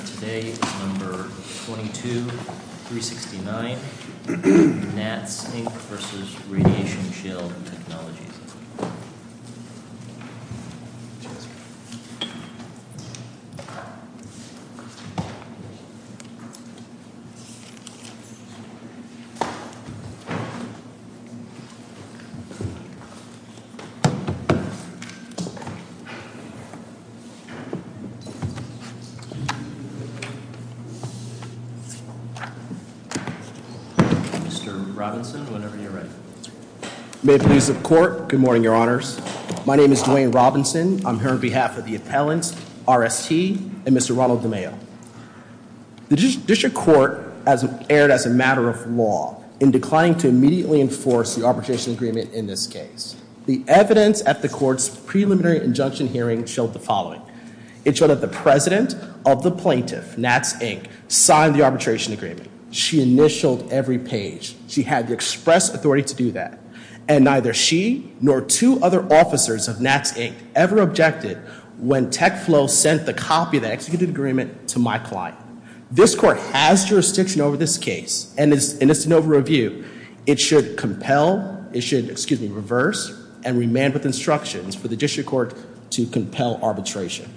Number 22369, NATS, Inc. v. Radiation Shield Technologies Mr. Robinson, whenever you're ready. May it please the court, good morning, your honors. My name is Dwayne Robinson. I'm here on behalf of the appellants, RST, and Mr. Ronald DeMeo. The district court has erred as a matter of law in declining to immediately enforce the arbitration agreement in this case. The evidence at the court's preliminary injunction hearing showed the following. It showed that the president of the plaintiff, NATS, Inc., signed the arbitration agreement. She initialed every page. She had the express authority to do that. And neither she nor two other officers of NATS, Inc. ever objected when TechFlow sent the copy of the executed agreement to my client. This court has jurisdiction over this case, and it's an over-review. It should compel, it should, excuse me, reverse and remand with instructions for the district court to compel arbitration.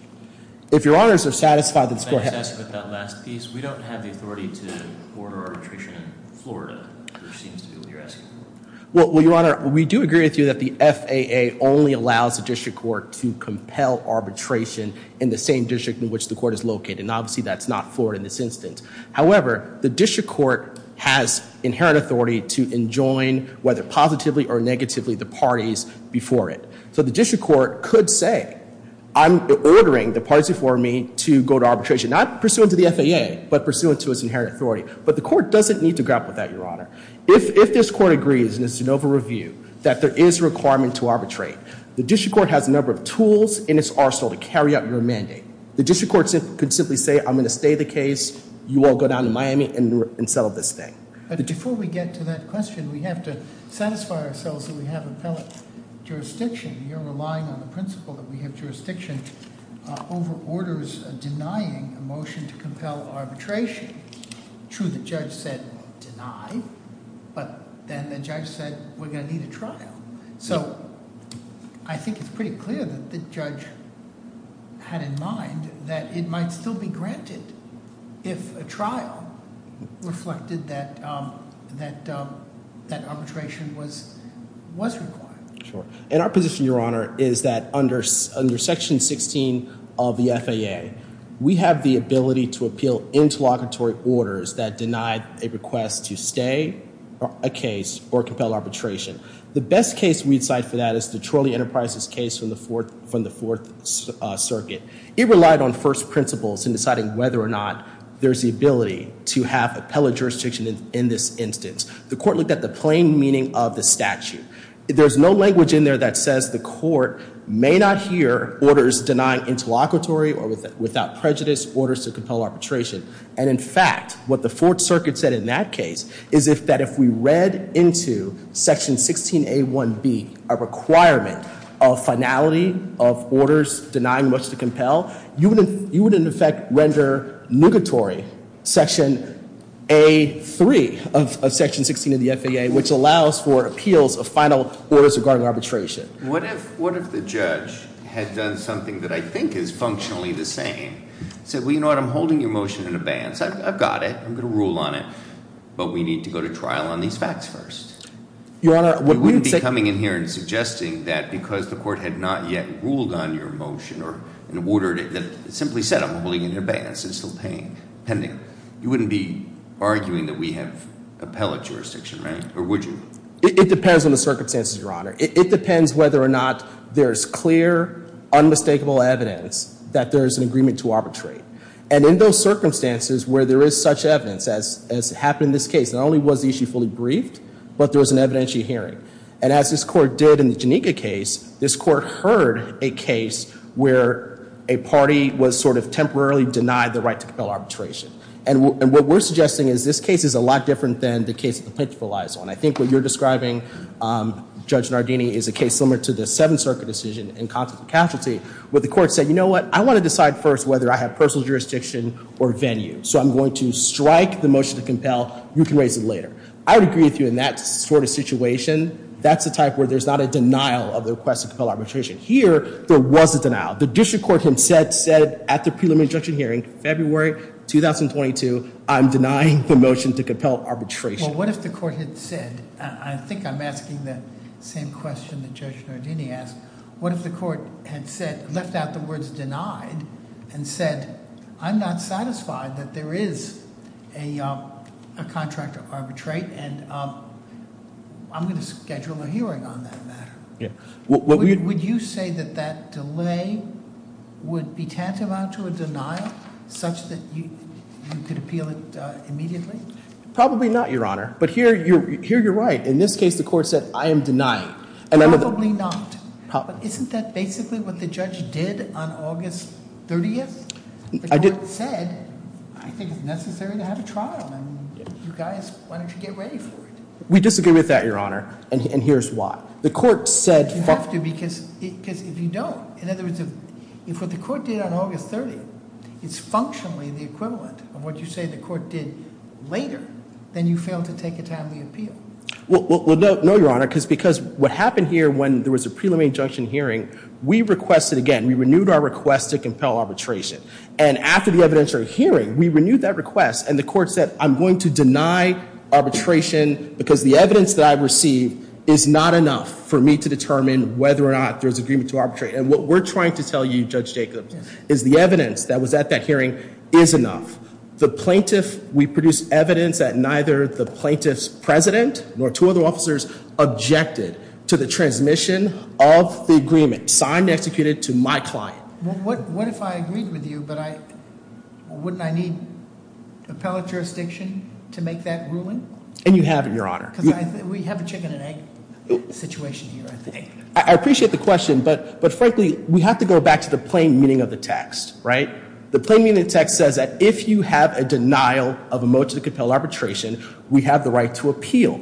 If your honors are satisfied that this court has- May I just ask about that last piece? We don't have the authority to order arbitration in Florida, which seems to be what you're asking. Well, your honor, we do agree with you that the FAA only allows the district court to compel arbitration in the same district in which the court is located. And obviously that's not Florida in this instance. However, the district court has inherent authority to enjoin, whether positively or negatively, the parties before it. So the district court could say, I'm ordering the parties before me to go to arbitration. Not pursuant to the FAA, but pursuant to its inherent authority. But the court doesn't need to grapple with that, your honor. If this court agrees, and it's an over-review, that there is a requirement to arbitrate, the district court has a number of tools in its arsenal to carry out your mandate. The district court could simply say, I'm going to stay the case. You all go down to Miami and settle this thing. But before we get to that question, we have to satisfy ourselves that we have appellate jurisdiction. You're relying on the principle that we have jurisdiction over orders denying a motion to compel arbitration. True, the judge said, deny. But then the judge said, we're going to need a trial. So I think it's pretty clear that the judge had in mind that it might still be granted if a trial reflected that arbitration was required. Sure. And our position, your honor, is that under section 16 of the FAA, we have the ability to appeal interlocutory orders that deny a request to stay a case or compel arbitration. The best case we'd cite for that is the Trolley Enterprises case from the Fourth Circuit. It relied on first principles in deciding whether or not there's the ability to have appellate jurisdiction in this instance. The court looked at the plain meaning of the statute. There's no language in there that says the court may not hear orders denying interlocutory or without prejudice orders to compel arbitration. And in fact, what the Fourth Circuit said in that case is that if we read into section 16A1B, a requirement of finality of orders denying much to compel, you would in effect render negatory section A3 of section 16 of the FAA, which allows for appeals of final orders regarding arbitration. What if the judge had done something that I think is functionally the same? Said, well, you know what? I'm holding your motion in abeyance. I've got it. I'm going to rule on it. But we need to go to trial on these facts first. Your honor, what we would say- You wouldn't be coming in here and suggesting that because the court had not yet ruled on your motion or ordered it, that it simply said, I'm holding it in abeyance. It's still pending. You wouldn't be arguing that we have appellate jurisdiction, right? Or would you? It depends on the circumstances, your honor. It depends whether or not there is clear, unmistakable evidence that there is an agreement to arbitrate. And in those circumstances where there is such evidence, as happened in this case, not only was the issue fully briefed, but there was an evidentiary hearing. And as this court did in the Janika case, this court heard a case where a party was sort of temporarily denied the right to compel arbitration. And what we're suggesting is this case is a lot different than the case of the Pitchfork Liaison. And I think what you're describing, Judge Nardini, is a case similar to the Seventh Circuit decision in context of casualty, where the court said, you know what? I want to decide first whether I have personal jurisdiction or venue. So I'm going to strike the motion to compel. You can raise it later. I would agree with you in that sort of situation. That's the type where there's not a denial of the request to compel arbitration. Here, there was a denial. The district court had said at the preliminary injunction hearing, February 2022, I'm denying the motion to compel arbitration. Well, what if the court had said, I think I'm asking the same question that Judge Nardini asked, what if the court had said, left out the words denied, and said, I'm not satisfied that there is a contract to arbitrate, and I'm going to schedule a hearing on that matter. Yeah. Would you say that that delay would be tantamount to a denial, such that you could appeal it immediately? Probably not, Your Honor. But here, you're right. In this case, the court said, I am denying. Probably not. But isn't that basically what the judge did on August 30th? The court said, I think it's necessary to have a trial. You guys, why don't you get ready for it? We disagree with that, Your Honor. And here's why. You have to, because if you don't. In other words, if what the court did on August 30th is functionally the equivalent of what you say the court did later, then you fail to take a timely appeal. Well, no, Your Honor, because what happened here when there was a preliminary injunction hearing, we requested again. We renewed our request to compel arbitration. And after the evidentiary hearing, we renewed that request, and the court said, I'm going to deny arbitration because the evidence that I've received is not enough for me to determine whether or not there's agreement to arbitrate. And what we're trying to tell you, Judge Jacobs, is the evidence that was at that hearing is enough. The plaintiff, we produced evidence that neither the plaintiff's president nor two other officers objected to the transmission of the agreement signed and executed to my client. What if I agreed with you, but wouldn't I need appellate jurisdiction to make that ruling? And you have it, Your Honor. Because we have a chicken and egg situation here, I think. I appreciate the question, but frankly, we have to go back to the plain meaning of the text, right? The plain meaning of the text says that if you have a denial of a motion to compel arbitration, we have the right to appeal.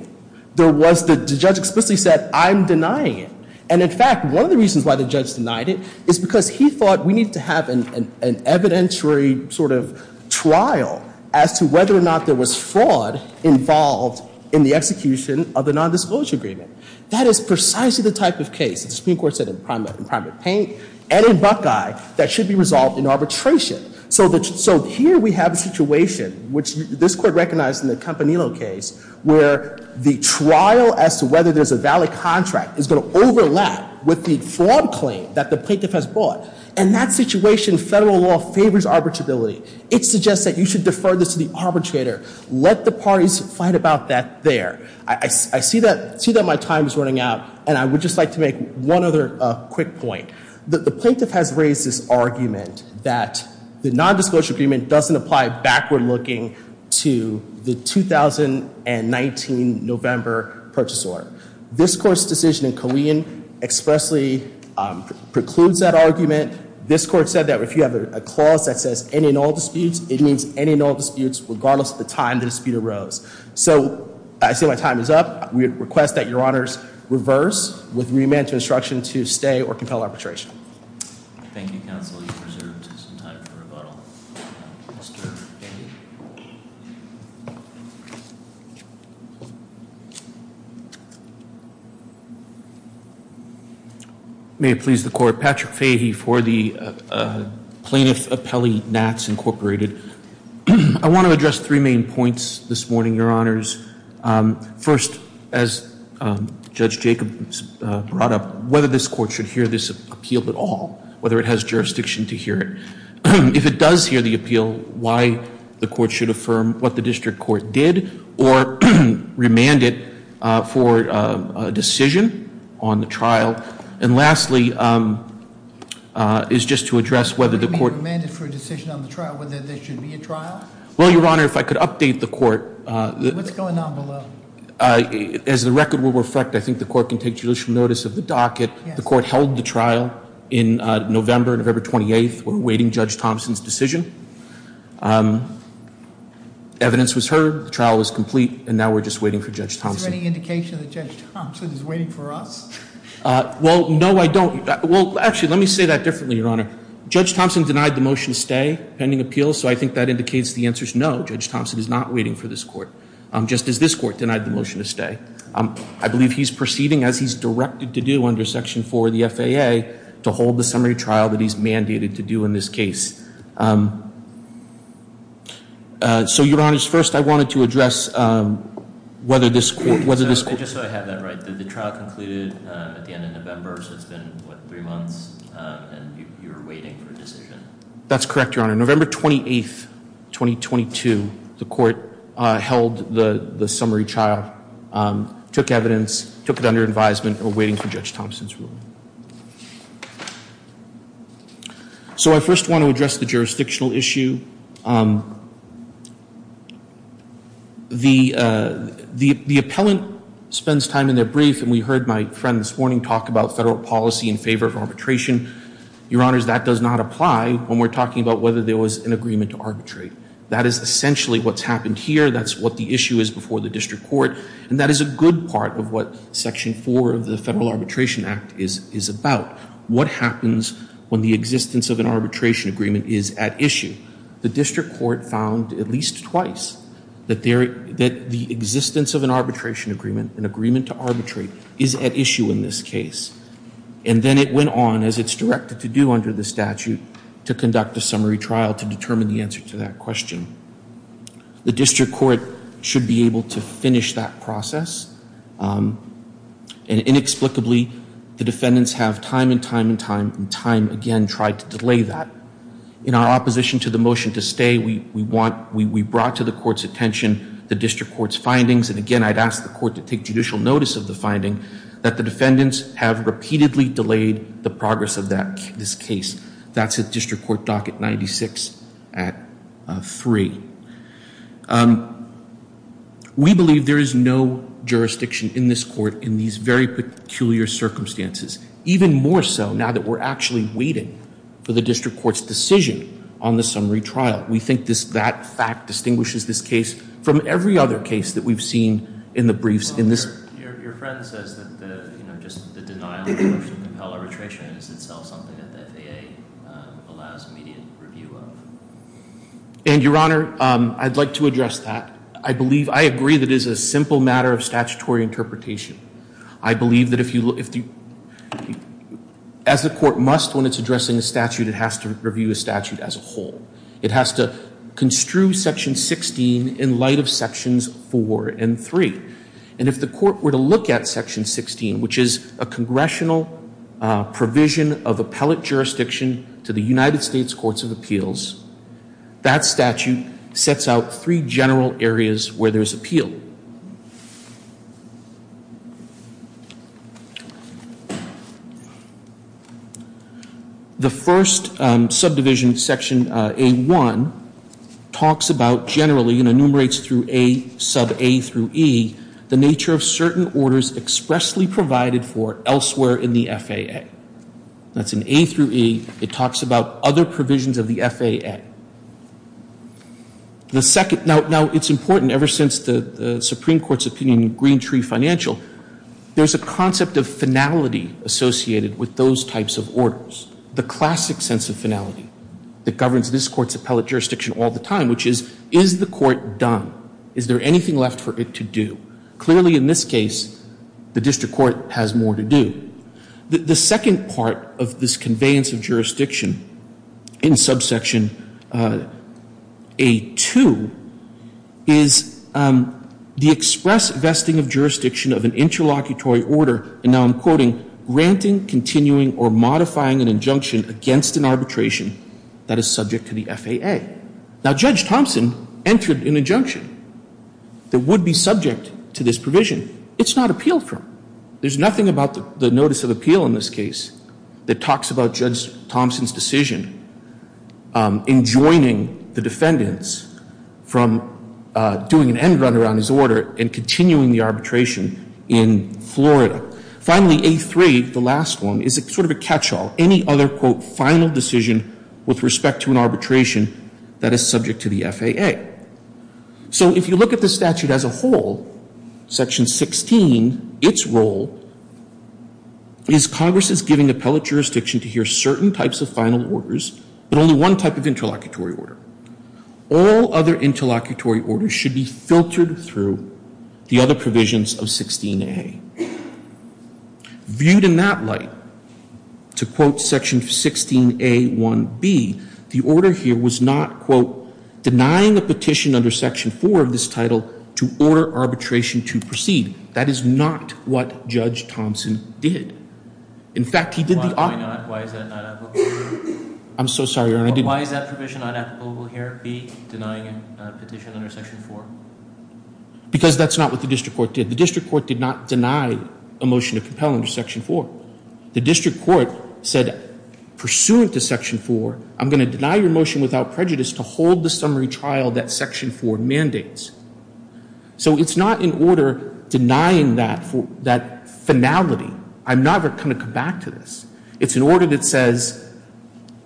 The judge explicitly said, I'm denying it. And in fact, one of the reasons why the judge denied it is because he thought we need to have an evidentiary sort of trial as to whether or not there was fraud involved in the execution of the nondisclosure agreement. That is precisely the type of case that the Supreme Court said in Primate Paint and in Buckeye that should be resolved in arbitration. So here we have a situation, which this Court recognized in the Campanillo case, where the trial as to whether there's a valid contract is going to overlap with the fraud claim that the plaintiff has brought. In that situation, federal law favors arbitrability. It suggests that you should defer this to the arbitrator. Let the parties fight about that there. I see that my time is running out, and I would just like to make one other quick point. The plaintiff has raised this argument that the nondisclosure agreement doesn't apply backward-looking to the 2019 November purchase order. This Court's decision in Colleen expressly precludes that argument. This Court said that if you have a clause that says any and all disputes, it means any and all disputes, regardless of the time the dispute arose. So I see my time is up. We request that Your Honors reverse with remand to instruction to stay or compel arbitration. Thank you, Counsel. You've reserved some time for rebuttal. May it please the Court, Patrick Fahey for the Plaintiff Appellee Nats Incorporated. I want to address three main points this morning, Your Honors. First, as Judge Jacobs brought up, whether this court should hear this appeal at all, whether it has jurisdiction to hear it. If it does hear the appeal, why the court should affirm what the district court did or remand it for a decision on the trial? And lastly, is just to address whether the court- Remand it for a decision on the trial, whether there should be a trial? Well, Your Honor, if I could update the court- What's going on below? As the record will reflect, I think the court can take judicial notice of the docket. The court held the trial in November, November 28th. We're waiting Judge Thompson's decision. Evidence was heard, the trial was complete, and now we're just waiting for Judge Thompson. Is there any indication that Judge Thompson is waiting for us? Well, no, I don't- Well, actually, let me say that differently, Your Honor. Judge Thompson denied the motion to stay pending appeal, so I think that indicates the answer's no. Judge Thompson is not waiting for this court, just as this court denied the motion to stay. I believe he's proceeding as he's directed to do under Section 4 of the FAA to hold the summary trial that he's mandated to do in this case. So, Your Honors, first I wanted to address whether this court- That's correct, Your Honor. November 28th, 2022, the court held the summary trial, took evidence, took it under advisement, and we're waiting for Judge Thompson's ruling. So I first want to address the jurisdictional issue. The appellant spends time in their brief, and we heard my friend this morning talk about federal policy in favor of arbitration. Your Honors, that does not apply when we're talking about whether there was an agreement to arbitrate. That is essentially what's happened here. That's what the issue is before the district court, and that is a good part of what Section 4 of the Federal Arbitration Act is about. What happens when the existence of an arbitration agreement is at issue? The district court found at least twice that the existence of an arbitration agreement, an agreement to arbitrate, is at issue in this case. And then it went on, as it's directed to do under the statute, to conduct a summary trial to determine the answer to that question. The district court should be able to finish that process, and inexplicably, the defendants have time and time and time and time again tried to delay that. In our opposition to the motion to stay, we brought to the court's attention the district court's findings, and again, I'd ask the court to take judicial notice of the finding that the defendants have repeatedly delayed the progress of this case. That's at district court docket 96 at 3. We believe there is no jurisdiction in this court in these very peculiar circumstances, even more so now that we're actually waiting for the district court's decision on the summary trial. We think that fact distinguishes this case from every other case that we've seen in the briefs in this. Your friend says that just the denial of the motion to compel arbitration is itself something that the FAA allows immediate review of. And, Your Honor, I'd like to address that. I agree that it is a simple matter of statutory interpretation. I believe that as the court must, when it's addressing a statute, it has to review a statute as a whole. It has to construe Section 16 in light of Sections 4 and 3. And if the court were to look at Section 16, which is a congressional provision of appellate jurisdiction to the United States Courts of Appeals, that statute sets out three general areas where there's appeal. The first subdivision, Section A-1, talks about generally and enumerates through A, sub-A through E, the nature of certain orders expressly provided for elsewhere in the FAA. That's in A through E. It talks about other provisions of the FAA. The second, now it's important ever since the Supreme Court's opinion in Green Tree Financial, there's a concept of finality associated with those types of orders. The classic sense of finality that governs this Court's appellate jurisdiction all the time, which is, is the court done? Is there anything left for it to do? Clearly, in this case, the district court has more to do. The second part of this conveyance of jurisdiction in subsection A-2 is the express vesting of jurisdiction of an interlocutory order. And now I'm quoting, granting, continuing, or modifying an injunction against an arbitration that is subject to the FAA. Now, Judge Thompson entered an injunction that would be subject to this provision. It's not appealed for. There's nothing about the notice of appeal in this case that talks about Judge Thompson's decision in joining the defendants from doing an end run around his order and continuing the arbitration in Florida. Finally, A-3, the last one, is sort of a catch-all. Any other, quote, final decision with respect to an arbitration that is subject to the FAA. So if you look at the statute as a whole, Section 16, its role is Congress is giving appellate jurisdiction to hear certain types of final orders, but only one type of interlocutory order. All other interlocutory orders should be filtered through the other provisions of 16a. Viewed in that light, to quote Section 16a-1b, the order here was not, quote, denying a petition under Section 4 of this title to order arbitration to proceed. That is not what Judge Thompson did. In fact, he did the opposite. Why is that not applicable? I'm so sorry, Your Honor. Why is that provision not applicable here, B, denying a petition under Section 4? Because that's not what the district court did. The district court did not deny a motion to compel under Section 4. The district court said, pursuant to Section 4, I'm going to deny your motion without prejudice to hold the summary trial that Section 4 mandates. So it's not an order denying that finality. I'm not going to come back to this. It's an order that says,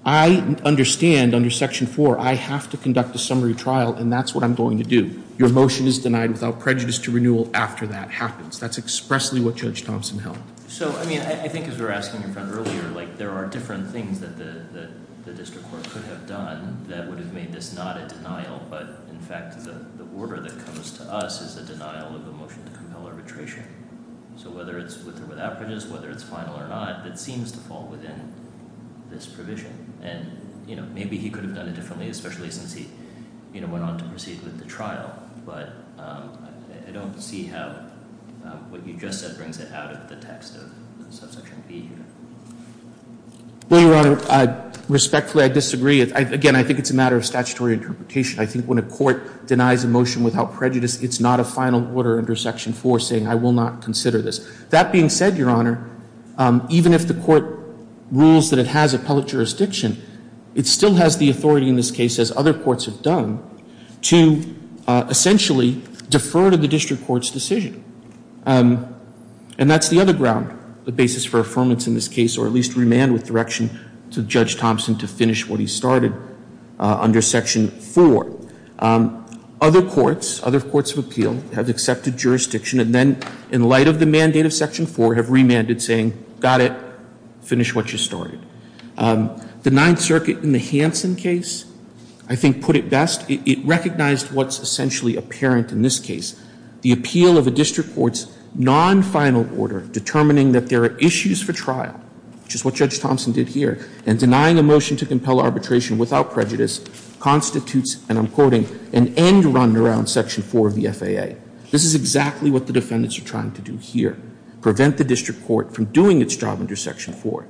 I understand under Section 4 I have to conduct a summary trial, and that's what I'm going to do. Your motion is denied without prejudice to renewal after that happens. That's expressly what Judge Thompson held. So, I mean, I think as we were asking your friend earlier, like, there are different things that the district court could have done that would have made this not a denial, but, in fact, the order that comes to us is a denial of a motion to compel arbitration. So whether it's with or without prejudice, whether it's final or not, it seems to fall within this provision. And, you know, maybe he could have done it differently, especially since he, you know, went on to proceed with the trial. But I don't see how what you just said brings it out of the text of Subsection B here. Well, Your Honor, respectfully, I disagree. Again, I think it's a matter of statutory interpretation. I think when a court denies a motion without prejudice, it's not a final order under Section 4 saying I will not consider this. That being said, Your Honor, even if the court rules that it has appellate jurisdiction, it still has the authority in this case, as other courts have done, to essentially defer to the district court's decision. And that's the other ground, the basis for affirmance in this case or at least remand with direction to Judge Thompson to finish what he started under Section 4. Other courts, other courts of appeal, have accepted jurisdiction and then in light of the mandate of Section 4 have remanded saying, got it, finish what you started. The Ninth Circuit in the Hansen case, I think, put it best. It recognized what's essentially apparent in this case. The appeal of a district court's non-final order determining that there are issues for trial, which is what Judge Thompson did here, and denying a motion to compel arbitration without prejudice constitutes, and I'm quoting, an end run around Section 4 of the FAA. This is exactly what the defendants are trying to do here, prevent the district court from doing its job under Section 4.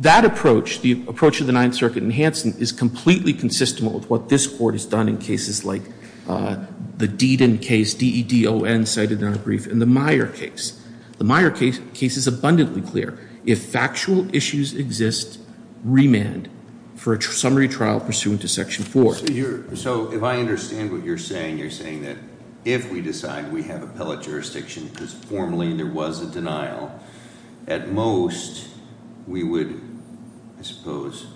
That approach, the approach of the Ninth Circuit in Hansen, is completely consistent with what this court has done in cases like the Deedon case, D-E-D-O-N cited in our brief, and the Meyer case. The Meyer case is abundantly clear. If factual issues exist, remand for a summary trial pursuant to Section 4. So if I understand what you're saying, you're saying that if we decide we have appellate jurisdiction because formally there was a denial, at most we would, I suppose,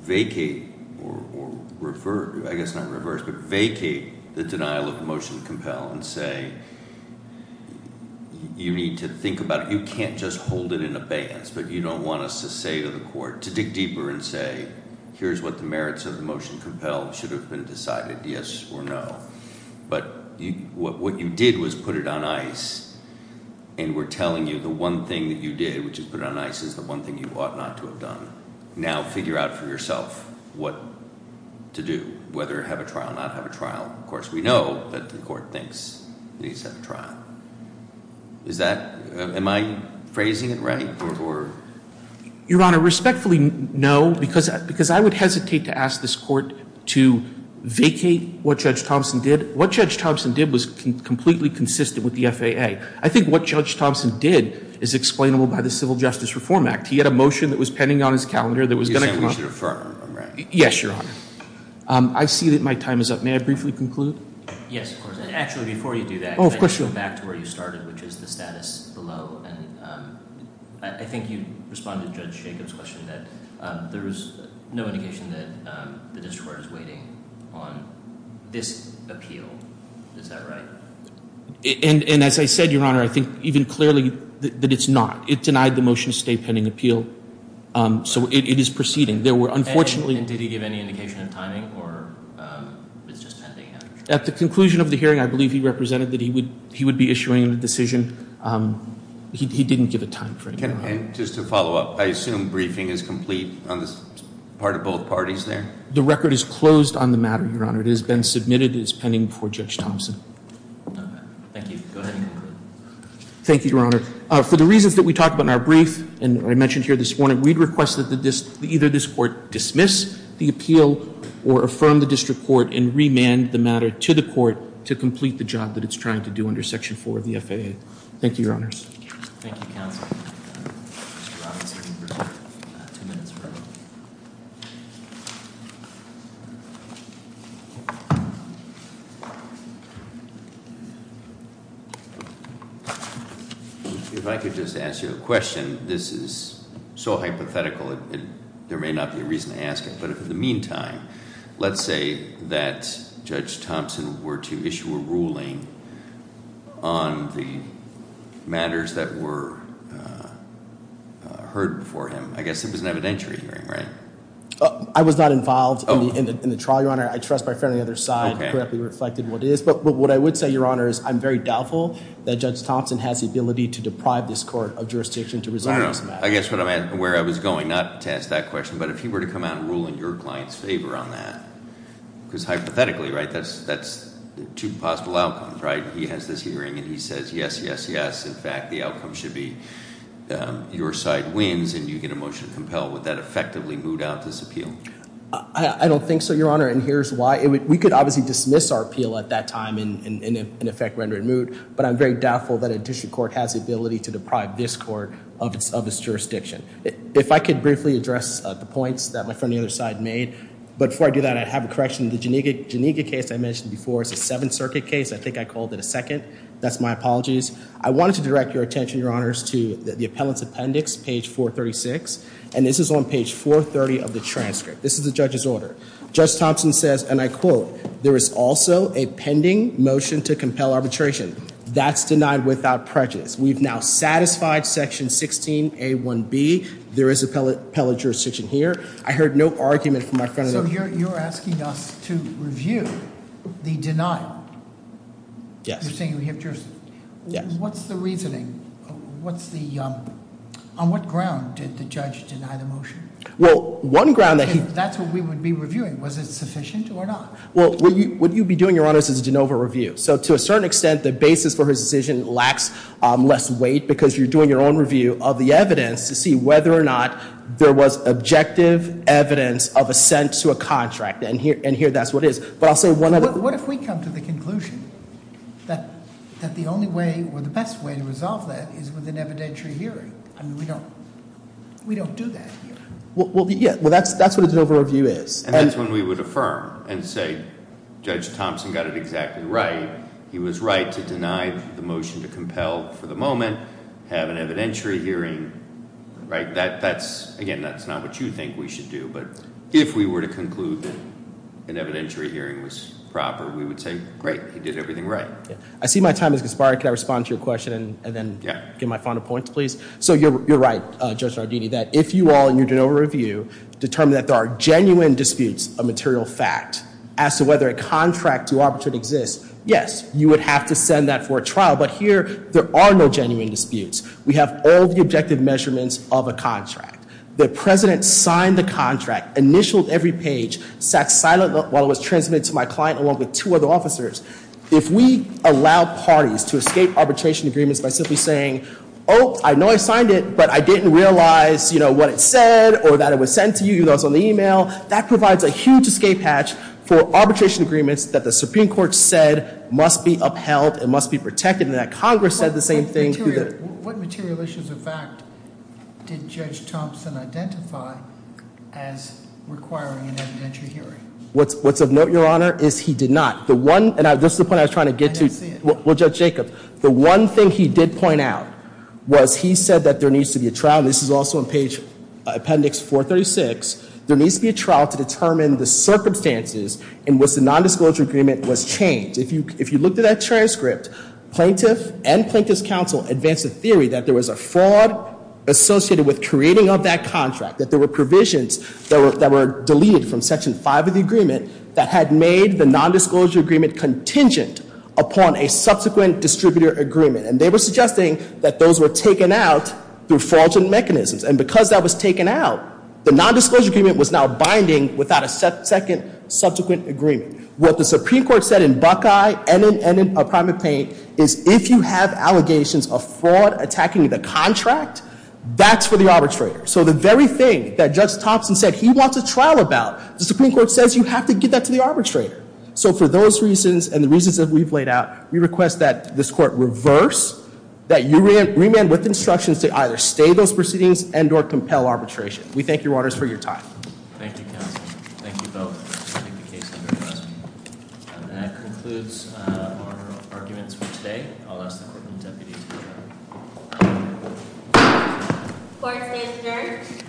vacate, or I guess not reverse, but vacate the denial of motion to compel and say you need to think about it, you can't just hold it in abeyance, but you don't want us to say to the court, to dig deeper and say, here's what the merits of the motion to compel should have been decided, yes or no. But what you did was put it on ice, and we're telling you the one thing that you did, which is put it on ice, is the one thing you ought not to have done. Now figure out for yourself what to do, whether have a trial, not have a trial. Of course, we know that the court thinks it needs to have a trial. Is that, am I phrasing it right? Your Honor, respectfully, no, because I would hesitate to ask this court to vacate what Judge Thompson did. What Judge Thompson did was completely consistent with the FAA. I think what Judge Thompson did is explainable by the Civil Justice Reform Act. He had a motion that was pending on his calendar that was going to come up. Yes, Your Honor. I see that my time is up. May I briefly conclude? Yes, of course, and actually before you do that, I want to go back to where you started, which is the status below, and I think you responded to Judge Jacob's question that there is no indication that the district court is waiting on this appeal. Is that right? And as I said, Your Honor, I think even clearly that it's not. It denied the motion to stay pending appeal. So it is proceeding. And did he give any indication of timing, or it's just pending? At the conclusion of the hearing, I believe he represented that he would be issuing a decision. He didn't give a time frame. And just to follow up, I assume briefing is complete on this part of both parties there? The record is closed on the matter, Your Honor. It has been submitted as pending before Judge Thompson. Thank you. Go ahead. Thank you, Your Honor. For the reasons that we talked about in our brief and I mentioned here this morning, we'd request that either this court dismiss the appeal or affirm the district court and remand the matter to the court to complete the job that it's trying to do under Section 4 of the FAA. Thank you, Your Honors. Thank you, counsel. If I could just ask you a question. This is so hypothetical, there may not be a reason to ask it. But in the meantime, let's say that Judge Thompson were to issue a ruling on the matters that were heard before him. I guess it was an evidentiary hearing, right? I was not involved in the trial, Your Honor. I trust my friend on the other side correctly reflected what it is. But what I would say, Your Honor, is I'm very doubtful that Judge Thompson has the ability to deprive this court of jurisdiction to resolve this matter. I guess where I was going, not to ask that question, but if he were to come out and rule in your client's favor on that, because hypothetically, right, that's two possible outcomes, right? He has this hearing and he says, yes, yes, yes. In fact, the outcome should be your side wins and you get a motion to compel. Would that effectively moot out this appeal? I don't think so, Your Honor. And here's why. But I'm very doubtful that a district court has the ability to deprive this court of its jurisdiction. If I could briefly address the points that my friend on the other side made. But before I do that, I have a correction. The Janika case I mentioned before is a Seventh Circuit case. I think I called it a second. That's my apologies. I wanted to direct your attention, Your Honors, to the appellant's appendix, page 436. And this is on page 430 of the transcript. This is the judge's order. Judge Thompson says, and I quote, there is also a pending motion to compel arbitration. That's denied without prejudice. We've now satisfied section 16A1B. There is appellate jurisdiction here. I heard no argument from my friend. So you're asking us to review the denial? Yes. You're saying we have jurisdiction? Yes. What's the reasoning? What's the – on what ground did the judge deny the motion? Well, one ground that he – That's what we would be reviewing. Was it sufficient or not? Well, what you'd be doing, Your Honors, is a de novo review. So to a certain extent, the basis for his decision lacks less weight because you're doing your own review of the evidence to see whether or not there was objective evidence of assent to a contract. And here that's what it is. But I'll say one other – What if we come to the conclusion that the only way or the best way to resolve that is with an evidentiary hearing? I mean, we don't do that here. Well, that's what a de novo review is. And that's when we would affirm and say Judge Thompson got it exactly right. He was right to deny the motion to compel for the moment, have an evidentiary hearing. That's – again, that's not what you think we should do. But if we were to conclude that an evidentiary hearing was proper, we would say, great, he did everything right. I see my time has expired. Can I respond to your question and then get my final points, please? So you're right, Judge Nardini, that if you all in your de novo review determine that there are genuine disputes of material fact as to whether a contract to arbitrate exists, yes, you would have to send that for a trial. But here there are no genuine disputes. We have all the objective measurements of a contract. The president signed the contract, initialed every page, sat silent while it was transmitted to my client along with two other officers. If we allow parties to escape arbitration agreements by simply saying, oh, I know I signed it, but I didn't realize, you know, what it said or that it was sent to you, even though it was on the email, that provides a huge escape hatch for arbitration agreements that the Supreme Court said must be upheld and must be protected and that Congress said the same thing. What material issues of fact did Judge Thompson identify as requiring an evidentiary hearing? What's of note, Your Honor, is he did not. The one, and this is the point I was trying to get to. I didn't see it. Well, Judge Jacob, the one thing he did point out was he said that there needs to be a trial. This is also on page, appendix 436. There needs to be a trial to determine the circumstances in which the nondisclosure agreement was changed. If you looked at that transcript, plaintiff and plaintiff's counsel advanced a theory that there was a fraud associated with creating of that contract, that there were provisions that were deleted from section 5 of the agreement that had made the nondisclosure agreement contingent upon a subsequent distributor agreement. And they were suggesting that those were taken out through fraudulent mechanisms. And because that was taken out, the nondisclosure agreement was now binding without a second subsequent agreement. What the Supreme Court said in Buckeye and in Primate Paint is if you have allegations of fraud attacking the contract, that's for the arbitrator. So the very thing that Judge Thompson said he wants a trial about, the Supreme Court says you have to give that to the arbitrator. So for those reasons and the reasons that we've laid out, we request that this court reverse, that you remand with instructions to either stay those proceedings and or compel arbitration. We thank your orders for your time. Thank you, counsel. Thank you both. I think the case is addressed. And that concludes our arguments for today. I'll ask the Courtroom Deputy to adjourn. Court is adjourned.